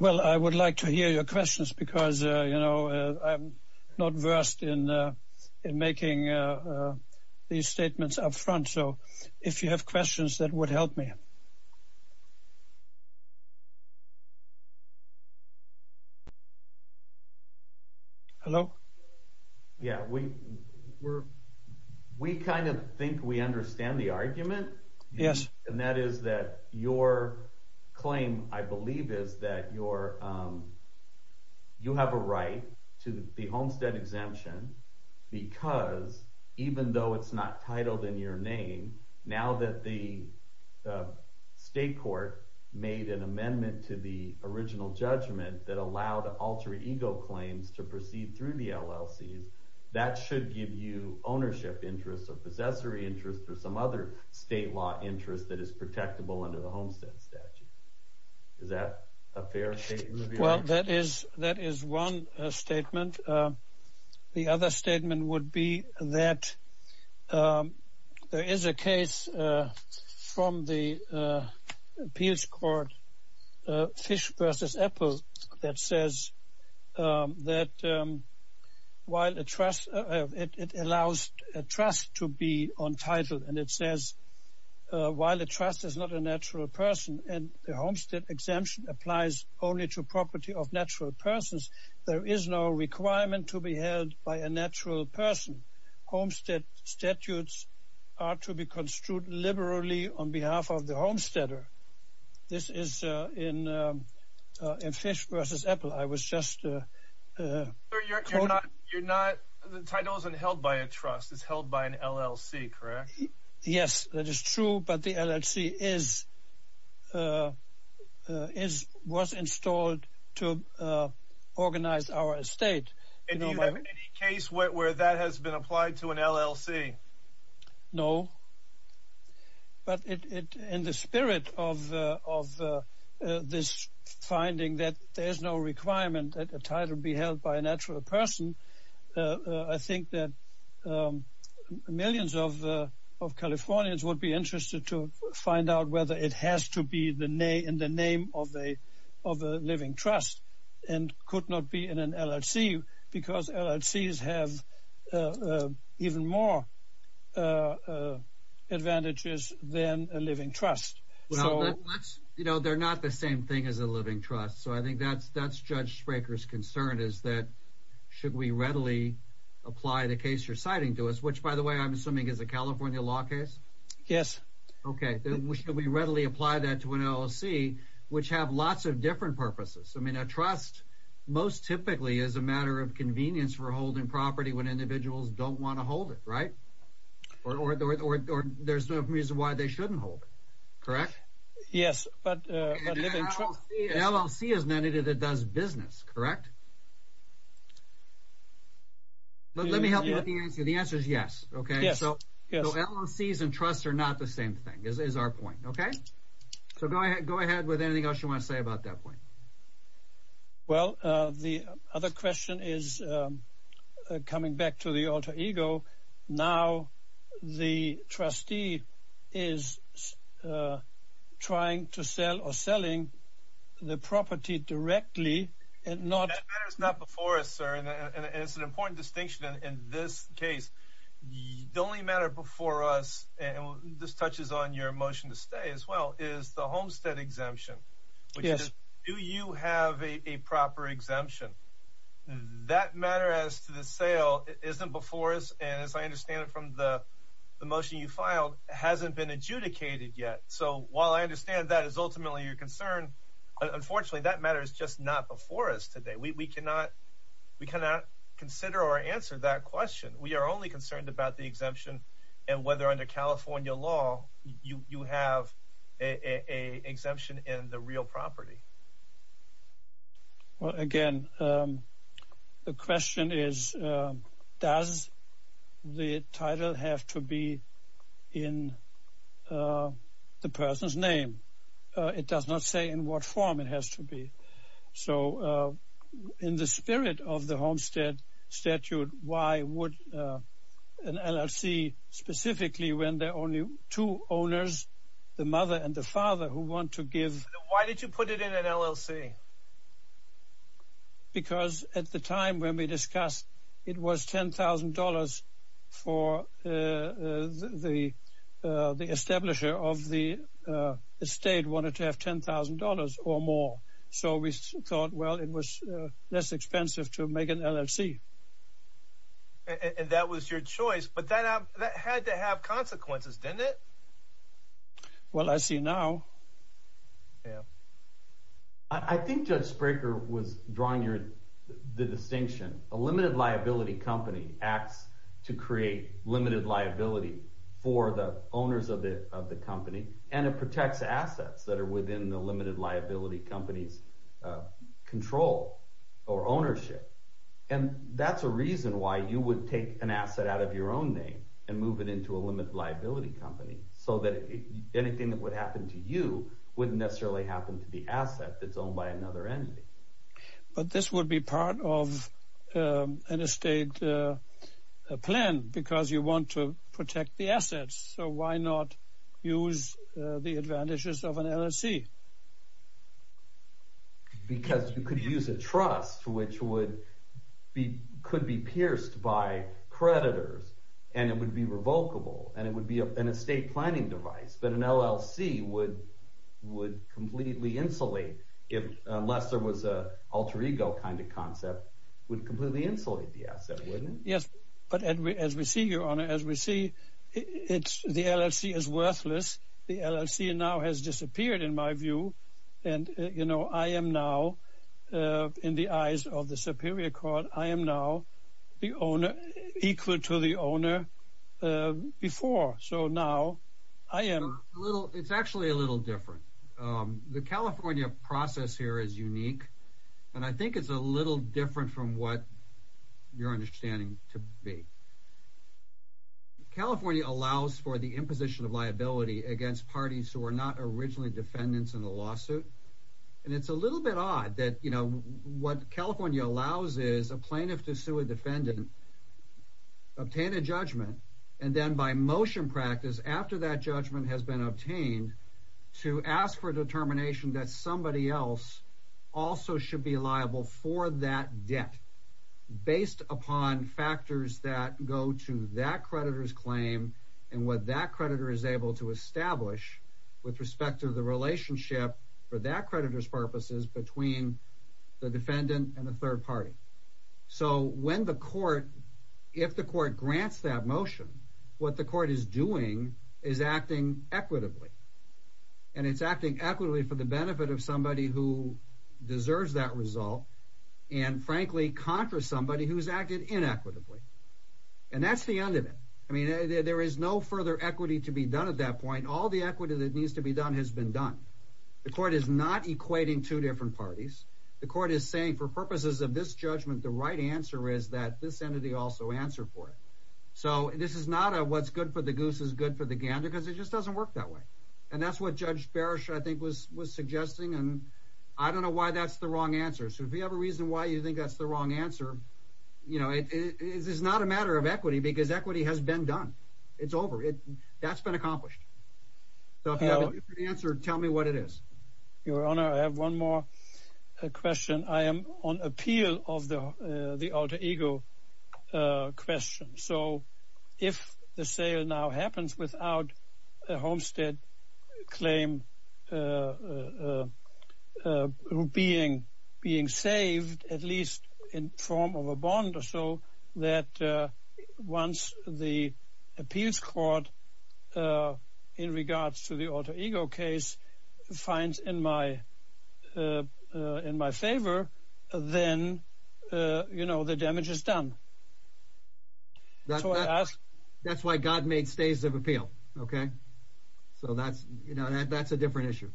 Well, I would like to hear your questions, because, you know, I'm not versed in making these statements up front. So, if you have questions, that would help me. Hello? Yeah, we kind of think we understand the argument. Yes. And that is that your claim, I believe, is that you have a right to the Homestead Exemption, because, even though it's not titled in your name, now that the state court made an amendment to the original judgment that allowed alter ego claims to proceed through the LLCs, that should give you ownership interest, or possessory interest, or some other state law interest that is protectable under the Homestead Statute. Is that a fair statement? Well, that is one statement. The other statement would be that there is a case from the appeals court Fish v. Apple, that says that it allows a trust to be untitled, and it says, while a trust is not a natural person, and the Homestead Exemption applies only to property of natural persons, there is no requirement to be held by a natural person. Homestead statutes are to be construed liberally on behalf of the homesteader. This is in Fish v. Apple. I was just quoted. You're not, the title isn't held by a trust, it's held by an LLC, correct? Yes, that is true, but the LLC was installed to organize our estate. And do you have any case where that has been applied to an LLC? No, but in the spirit of this finding that there is no requirement that a title be held by a natural person, I think that millions of Californians would be interested to find out whether it has to be in the name of a living trust, and could not be in an LLC, because LLCs have even more advantages than a living trust. Well, they're not the same thing as a living trust, so I think that's Judge Spraker's concern, is that should we readily apply the case you're citing to us, which by the way I'm assuming is a California law case? Yes. Okay, then should we readily apply that to an LLC, which have lots of different purposes? I mean, a trust most typically is a matter of convenience for holding property when individuals don't want to hold it, right? Or there's no reason why they shouldn't hold it, correct? Yes, but a living trust... An LLC is an entity that does business, correct? Let me help you with the answer. The answer is yes, okay? Yes. So, LLCs and trusts are not the same thing, is our point, okay? So, go ahead with anything else you want to say about that point. Well, the other question is, coming back to the alter ego, now the trustee is trying to sell or selling the property directly and not... That matter is not before us, sir, and it's an important distinction in this case. The only matter before us, and this touches on your motion to stay as well, is the homestead exemption. Yes. Do you have a proper exemption? That matter as to the sale isn't before us, and as I understand it from the motion you filed, hasn't been adjudicated yet. So, while I understand that is ultimately your concern, unfortunately that matter is just not before us today. We cannot consider or answer that question. We are only concerned about the exemption and whether under California law you have an exemption in the real property. Well, again, the question is, does the title have to be in the person's name? It does not say in what form it has to be. So, in the spirit of the homestead statute, why would an LLC, specifically when there are only two owners, the mother and the father, who want to give... Why did you put it in an LLC? Because at the time when we discussed, it was $10,000 for the establisher of the estate wanted to have $10,000 or more. So, we thought, well, it was less expensive to make an LLC. And that was your choice, but that had to have consequences, didn't it? Well, I see now. I think Judge Spraker was drawing the distinction. A limited liability company acts to create limited liability for the owners of the company. And it protects assets that are within the limited liability company's control or ownership. And that's a reason why you would take an asset out of your own name and move it into a limited liability company, so that anything that would happen to you wouldn't necessarily happen to the asset that's owned by another entity. But this would be part of an estate plan, because you want to protect the assets. So, why not use the advantages of an LLC? Because you could use a trust, which could be pierced by creditors, and it would be revocable, and it would be an estate planning device. But an LLC would completely insulate, unless there was an alter ego kind of concept, would completely insulate the asset, wouldn't it? Yes, but as we see, Your Honor, as we see, the LLC is worthless. The LLC now has disappeared, in my view. And, you know, I am now, in the eyes of the superior court, I am now the owner, equal to the owner before. So now, I am. It's actually a little different. The California process here is unique, and I think it's a little different from what you're understanding to be. California allows for the imposition of liability against parties who were not originally defendants in the lawsuit. And it's a little bit odd that, you know, what California allows is a plaintiff to sue a defendant, obtain a judgment, and then by motion practice, after that judgment has been obtained, to ask for a determination that somebody else also should be liable for that debt, based upon factors that go to that creditor's claim and what that creditor is able to establish with respect to the relationship, for that creditor's purposes, between the defendant and the third party. So when the court, if the court grants that motion, what the court is doing is acting equitably. And it's acting equitably for the benefit of somebody who deserves that result, and frankly, conquers somebody who's acted inequitably. And that's the end of it. I mean, there is no further equity to be done at that point. All the equity that needs to be done has been done. The court is not equating two different parties. The court is saying, for purposes of this judgment, the right answer is that this entity also answer for it. So this is not a what's good for the goose is good for the gander, because it just doesn't work that way. And that's what Judge Barish, I think, was suggesting, and I don't know why that's the wrong answer. So if you have a reason why you think that's the wrong answer, you know, it is not a matter of equity, because equity has been done. It's over. That's been accomplished. So if you have a different answer, tell me what it is. Your Honor, I have one more question. I am on appeal of the alter ego question. So if the sale now happens without a Homestead claim being saved, at least in form of a bond or so, that once the appeals court, in regards to the alter ego case, finds in my favor, then, you know, the damage is done. That's why God made stays of appeal, okay? So that's a different issue.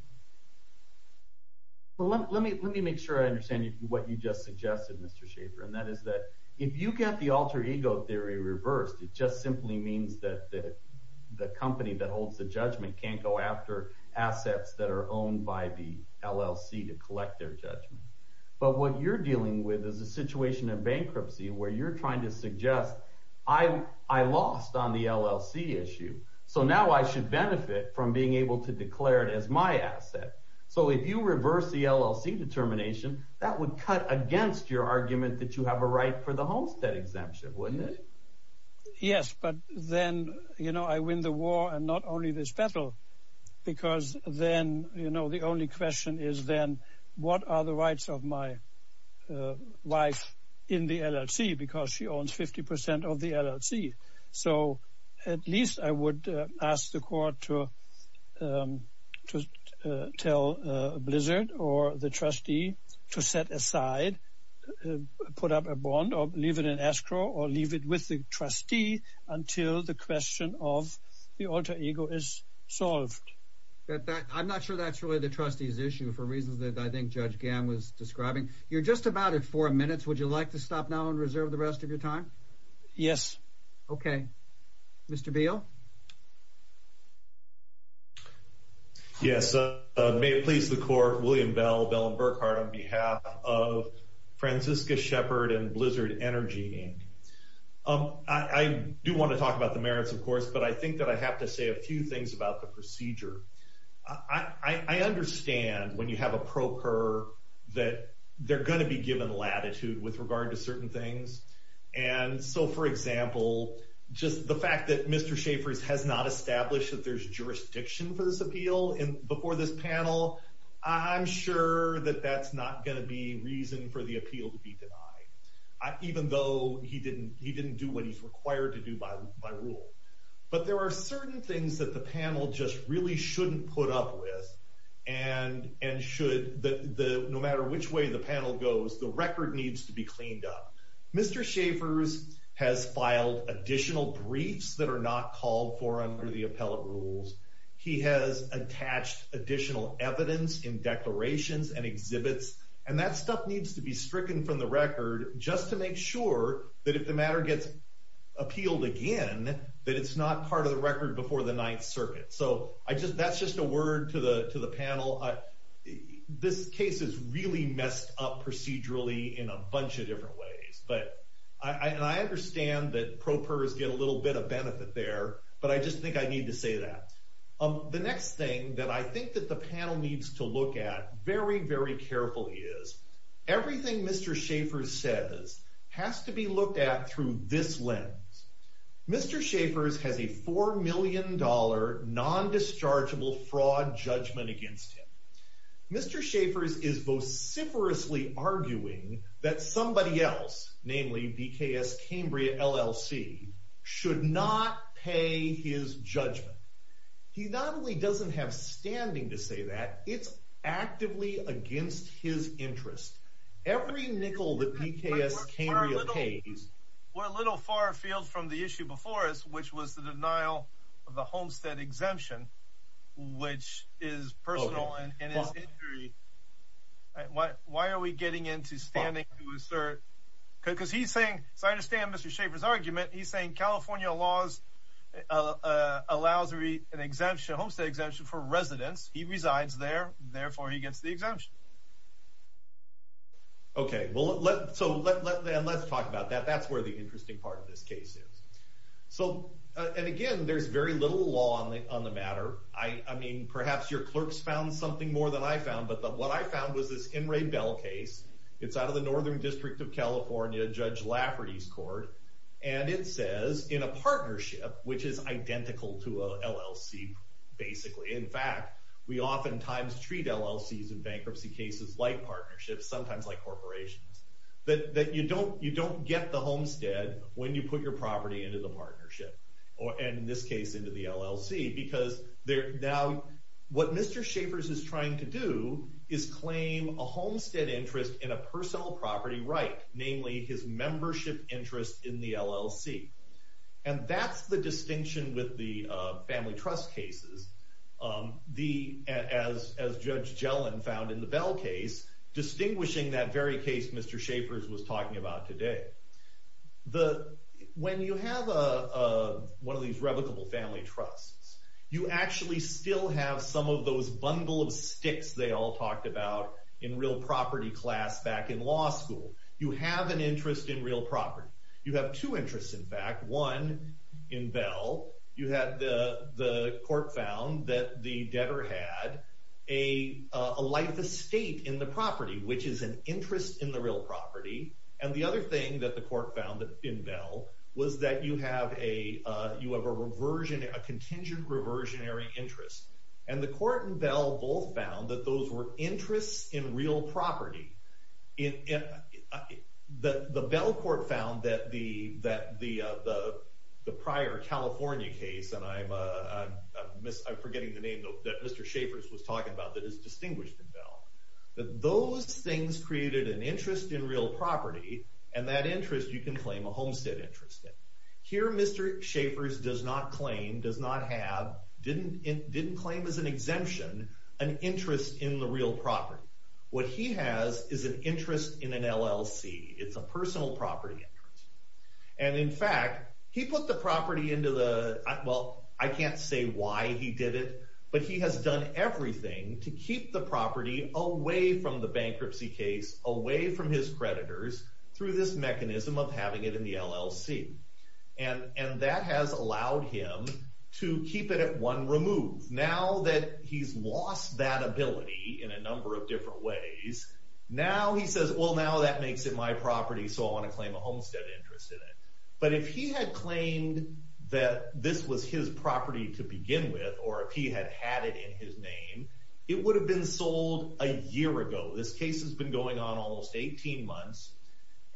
Well, let me make sure I understand what you just suggested, Mr. Schaffer. And that is that if you get the alter ego theory reversed, it just simply means that the company that holds the judgment can't go after assets that are owned by the LLC to collect their judgment. But what you're dealing with is a situation of bankruptcy where you're trying to suggest, I lost on the LLC issue. So now I should benefit from being able to declare it as my asset. So if you reverse the LLC determination, that would cut against your argument that you have a right for the Homestead exemption, wouldn't it? Yes, but then, you know, I win the war and not only this battle. Because then, you know, the only question is then, what are the rights of my wife in the LLC, because she owns 50% of the LLC. So at least I would ask the court to tell Blizzard or the trustee to set aside, put up a bond or leave it in escrow or leave it with the trustee until the question of the alter ego is solved. I'm not sure that's really the trustee's issue for reasons that I think Judge Gamm was describing. You're just about at four minutes. Would you like to stop now and reserve the rest of your time? Yes. Okay. Mr. Beal. Yes. May it please the court, William Bell, Bell and Burkhardt, on behalf of Francisca Shepard and Blizzard Energy. I do want to talk about the merits, of course, but I think that I have to say a few things about the procedure. I understand when you have a procure that they're going to be given latitude with regard to certain things. And so, for example, just the fact that Mr. Shepard has not established that there's jurisdiction for this appeal before this panel, I'm sure that that's not going to be reason for the appeal to be denied, even though he didn't do what he's required to do by rule. But there are certain things that the panel just really shouldn't put up with and should, no matter which way the panel goes, the record needs to be cleaned up. Mr. Shepard has filed additional briefs that are not called for under the appellate rules. He has attached additional evidence in declarations and exhibits, and that stuff needs to be stricken from the record just to make sure that if the matter gets appealed again, that it's not part of the record before the Ninth Circuit. So that's just a word to the panel. This case is really messed up procedurally in a bunch of different ways. And I understand that propers get a little bit of benefit there, but I just think I need to say that. The next thing that I think that the panel needs to look at very, very carefully is everything Mr. Shepard says has to be looked at through this lens. Mr. Shepard has a $4 million non-dischargeable fraud judgment against him. Mr. Shepard is vociferously arguing that somebody else, namely BKS Cambria LLC, should not pay his judgment. He not only doesn't have standing to say that, it's actively against his interest. Every nickel that BKS Cambria pays. We're a little far afield from the issue before us, which was the denial of the homestead exemption, which is personal and is injury. Why are we getting into standing to assert? Because he's saying, so I understand Mr. Shepard's argument. He's saying California laws allows an exemption, a homestead exemption for residents. He resides there. Therefore, he gets the exemption. Okay, well, so let's talk about that. That's where the interesting part of this case is. So, and again, there's very little law on the matter. I mean, perhaps your clerks found something more than I found, but what I found was this In Ray Bell case. And it says, in a partnership, which is identical to an LLC, basically. In fact, we oftentimes treat LLCs and bankruptcy cases like partnerships, sometimes like corporations. That you don't get the homestead when you put your property into the partnership. And in this case, into the LLC. Now, what Mr. Shepard's is trying to do is claim a homestead interest in a personal property right. Namely, his membership interest in the LLC. And that's the distinction with the family trust cases. As Judge Gellin found in the Bell case, distinguishing that very case Mr. Shepard's was talking about today. When you have one of these revocable family trusts, you actually still have some of those bundle of sticks they all talked about in real property class back in law school. You have an interest in real property. You have two interests, in fact. One, in Bell, you had the court found that the debtor had a life estate in the property. Which is an interest in the real property. And the other thing that the court found in Bell was that you have a contingent reversionary interest. And the court in Bell both found that those were interests in real property. The Bell court found that the prior California case, and I'm forgetting the name that Mr. Shepard's was talking about that is distinguished in Bell. That those things created an interest in real property. And that interest you can claim a homestead interest in. Here Mr. Shepard's does not claim, does not have, didn't claim as an exemption, an interest in the real property. What he has is an interest in an LLC. It's a personal property interest. And in fact, he put the property into the, well I can't say why he did it. But he has done everything to keep the property away from the bankruptcy case. Away from his creditors through this mechanism of having it in the LLC. And that has allowed him to keep it at one remove. Now that he's lost that ability in a number of different ways. Now he says, well now that makes it my property so I want to claim a homestead interest in it. But if he had claimed that this was his property to begin with. Or if he had had it in his name. It would have been sold a year ago. This case has been going on almost 18 months.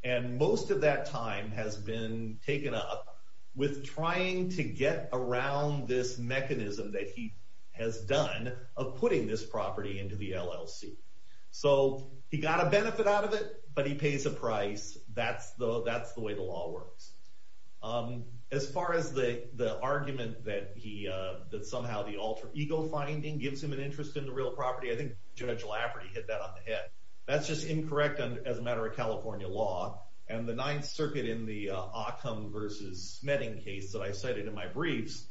And most of that time has been taken up with trying to get around this mechanism that he has done. Of putting this property into the LLC. So he got a benefit out of it. But he pays a price. That's the way the law works. As far as the argument that somehow the alter ego finding gives him an interest in the real property. I think Judge Lafferty hit that on the head. That's just incorrect as a matter of California law. And the Ninth Circuit in the Ockham versus Smedding case that I cited in my briefs.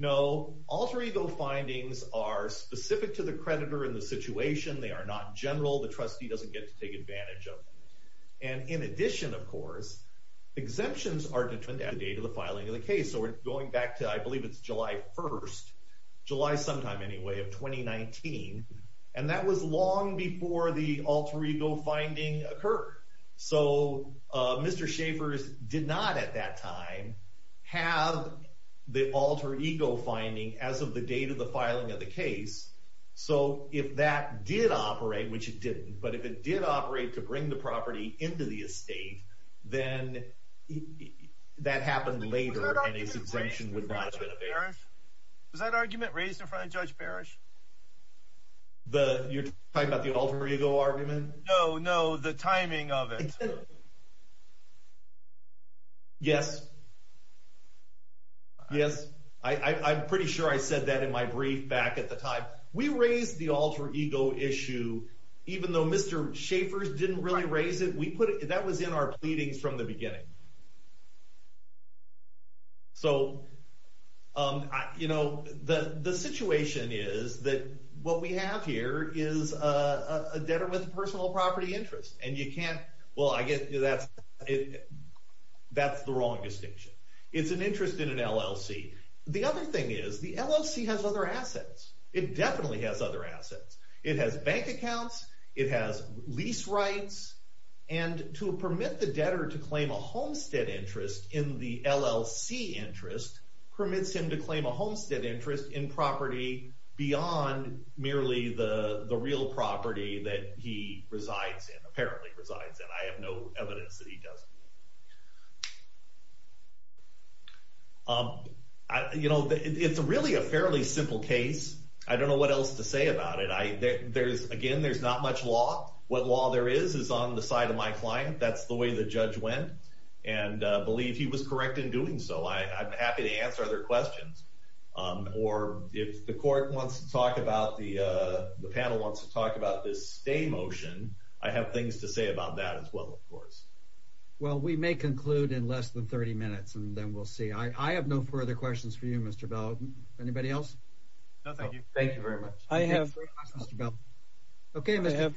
Alter ego findings are specific to the creditor in the situation. They are not general. The trustee doesn't get to take advantage of them. And in addition of course, exemptions are determined at the date of the filing of the case. So we're going back to I believe it's July 1st. July sometime anyway of 2019. And that was long before the alter ego finding occurred. So Mr. Schaffer did not at that time have the alter ego finding as of the date of the filing of the case. So if that did operate, which it didn't. But if it did operate to bring the property into the estate. Then that happened later and his exemption would not have been evaded. Was that argument raised in front of Judge Parrish? You're talking about the alter ego argument? No, no, the timing of it. Yes. Yes. I'm pretty sure I said that in my brief back at the time. We raised the alter ego issue even though Mr. Schaffer didn't really raise it. That was in our pleadings from the beginning. So the situation is that what we have here is a debtor with a personal property interest. And you can't, well I guess that's the wrong distinction. It's an interest in an LLC. The other thing is the LLC has other assets. It definitely has other assets. It has bank accounts. It has lease rights. And to permit the debtor to claim a homestead interest in the LLC interest permits him to claim a homestead interest in property beyond merely the real property that he resides in, apparently resides in. I have no evidence that he does. It's really a fairly simple case. I don't know what else to say about it. Again, there's not much law. What law there is is on the side of my client. That's the way the judge went. And I believe he was correct in doing so. I'm happy to answer other questions. Or if the court wants to talk about, the panel wants to talk about this stay motion, I have things to say about that as well, of course. Well, we may conclude in less than 30 minutes, and then we'll see. I have no further questions for you, Mr. Bell. Anybody else? No, thank you. Thank you very much. I have no further questions for you, Mr. Bell. Okay.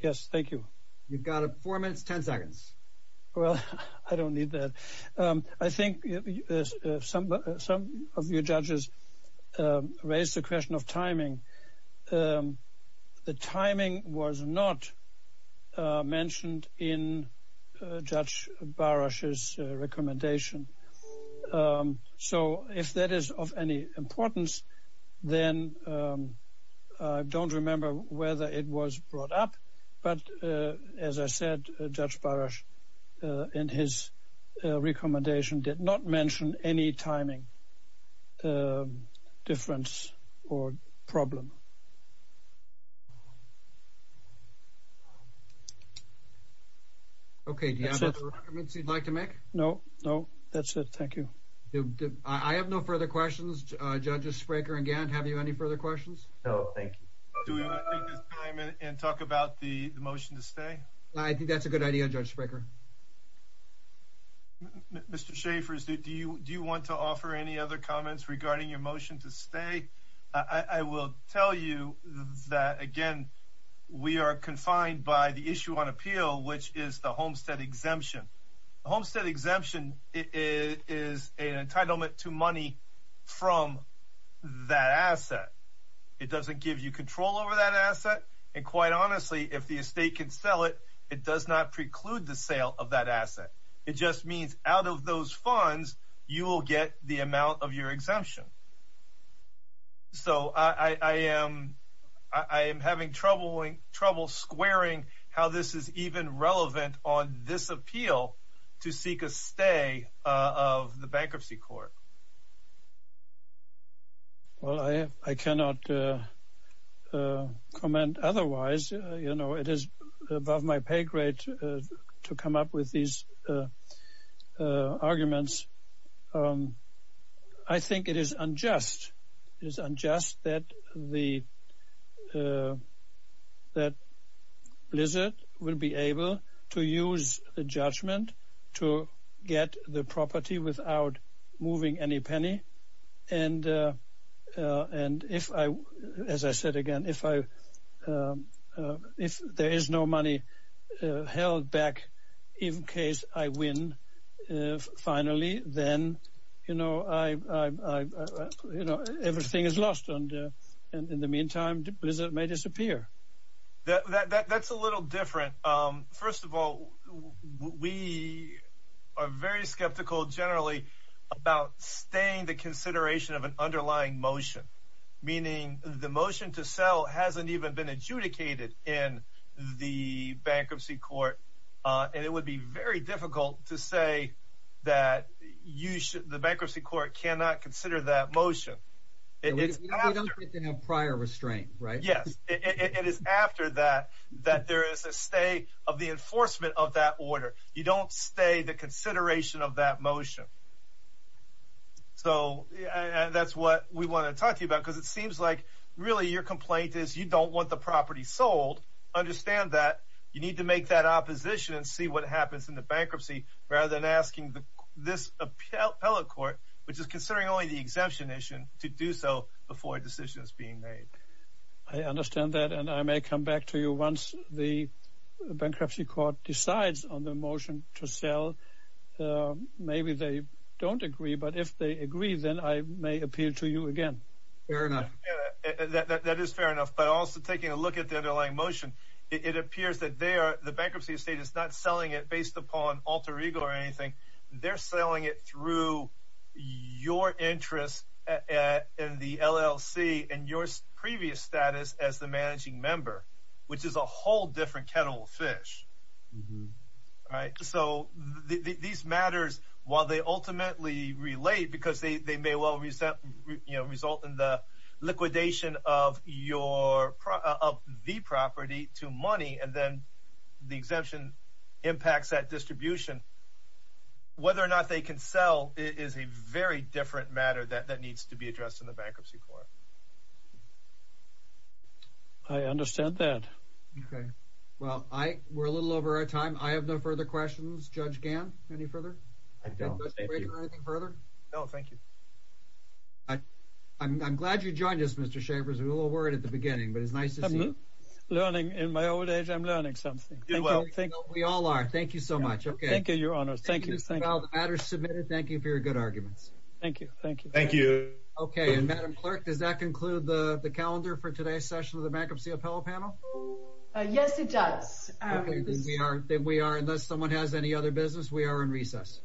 Yes, thank you. You've got four minutes, ten seconds. Well, I don't need that. I think some of your judges raised the question of timing. The timing was not mentioned in Judge Barasch's recommendation. So if that is of any importance, then I don't remember whether it was brought up. But as I said, Judge Barasch in his recommendation did not mention any timing difference or problem. Okay. Do you have other recommendations you'd like to make? No, no. That's it. Thank you. I have no further questions. Judges Spraker and Gant, have you any further questions? No, thank you. Do we want to take this time and talk about the motion to stay? I think that's a good idea, Judge Spraker. Mr. Schaffer, do you want to offer any other comments regarding your motion to stay? I will tell you that, again, we are confined by the issue on appeal, which is the homestead exemption. Homestead exemption is an entitlement to money from that asset. It doesn't give you control over that asset. And quite honestly, if the estate can sell it, it does not preclude the sale of that asset. It just means out of those funds, you will get the amount of your exemption. So, I am having trouble squaring how this is even relevant on this appeal to seek a stay of the bankruptcy court. Well, I cannot comment otherwise. You know, it is above my pay grade to come up with these arguments. I think it is unjust that Blizzard will be able to use the judgment to get the property without moving any penny. And, as I said again, if there is no money held back in case I win finally, then, you know, everything is lost. And in the meantime, Blizzard may disappear. That's a little different. First of all, we are very skeptical generally about staying the consideration of an underlying motion, meaning the motion to sell hasn't even been adjudicated in the bankruptcy court. And it would be very difficult to say that the bankruptcy court cannot consider that motion. We don't get the prior restraint, right? Yes, it is after that that there is a stay of the enforcement of that order. You don't stay the consideration of that motion. So, that's what we want to talk to you about because it seems like really your complaint is you don't want the property sold. Understand that you need to make that opposition and see what happens in the bankruptcy rather than asking this appellate court, which is considering only the exemption issue, to do so before a decision is being made. I understand that, and I may come back to you once the bankruptcy court decides on the motion to sell. Maybe they don't agree, but if they agree, then I may appeal to you again. Fair enough. That is fair enough. But also taking a look at the underlying motion, it appears that the bankruptcy estate is not selling it based upon alter ego or anything. They're selling it through your interest in the LLC and your previous status as the managing member, which is a whole different kettle of fish. So, these matters, while they ultimately relate because they may well result in the liquidation of the property to money, and then the exemption impacts that distribution, whether or not they can sell is a very different matter that needs to be addressed in the bankruptcy court. I understand that. Okay. Well, we're a little over our time. I have no further questions. Judge Gann, any further? I don't. Mr. Baker, anything further? No, thank you. I'm glad you joined us, Mr. Schaffer. I was a little worried at the beginning, but it's nice to see you. I'm learning. In my old age, I'm learning something. We all are. Thank you so much. Thank you, Your Honor. Thank you. Thank you for your good arguments. Thank you. Thank you. Okay. And, Madam Clerk, does that conclude the calendar for today's session of the Bankruptcy Appellate Panel? Yes, it does. Okay. Unless someone has any other business, we are in recess.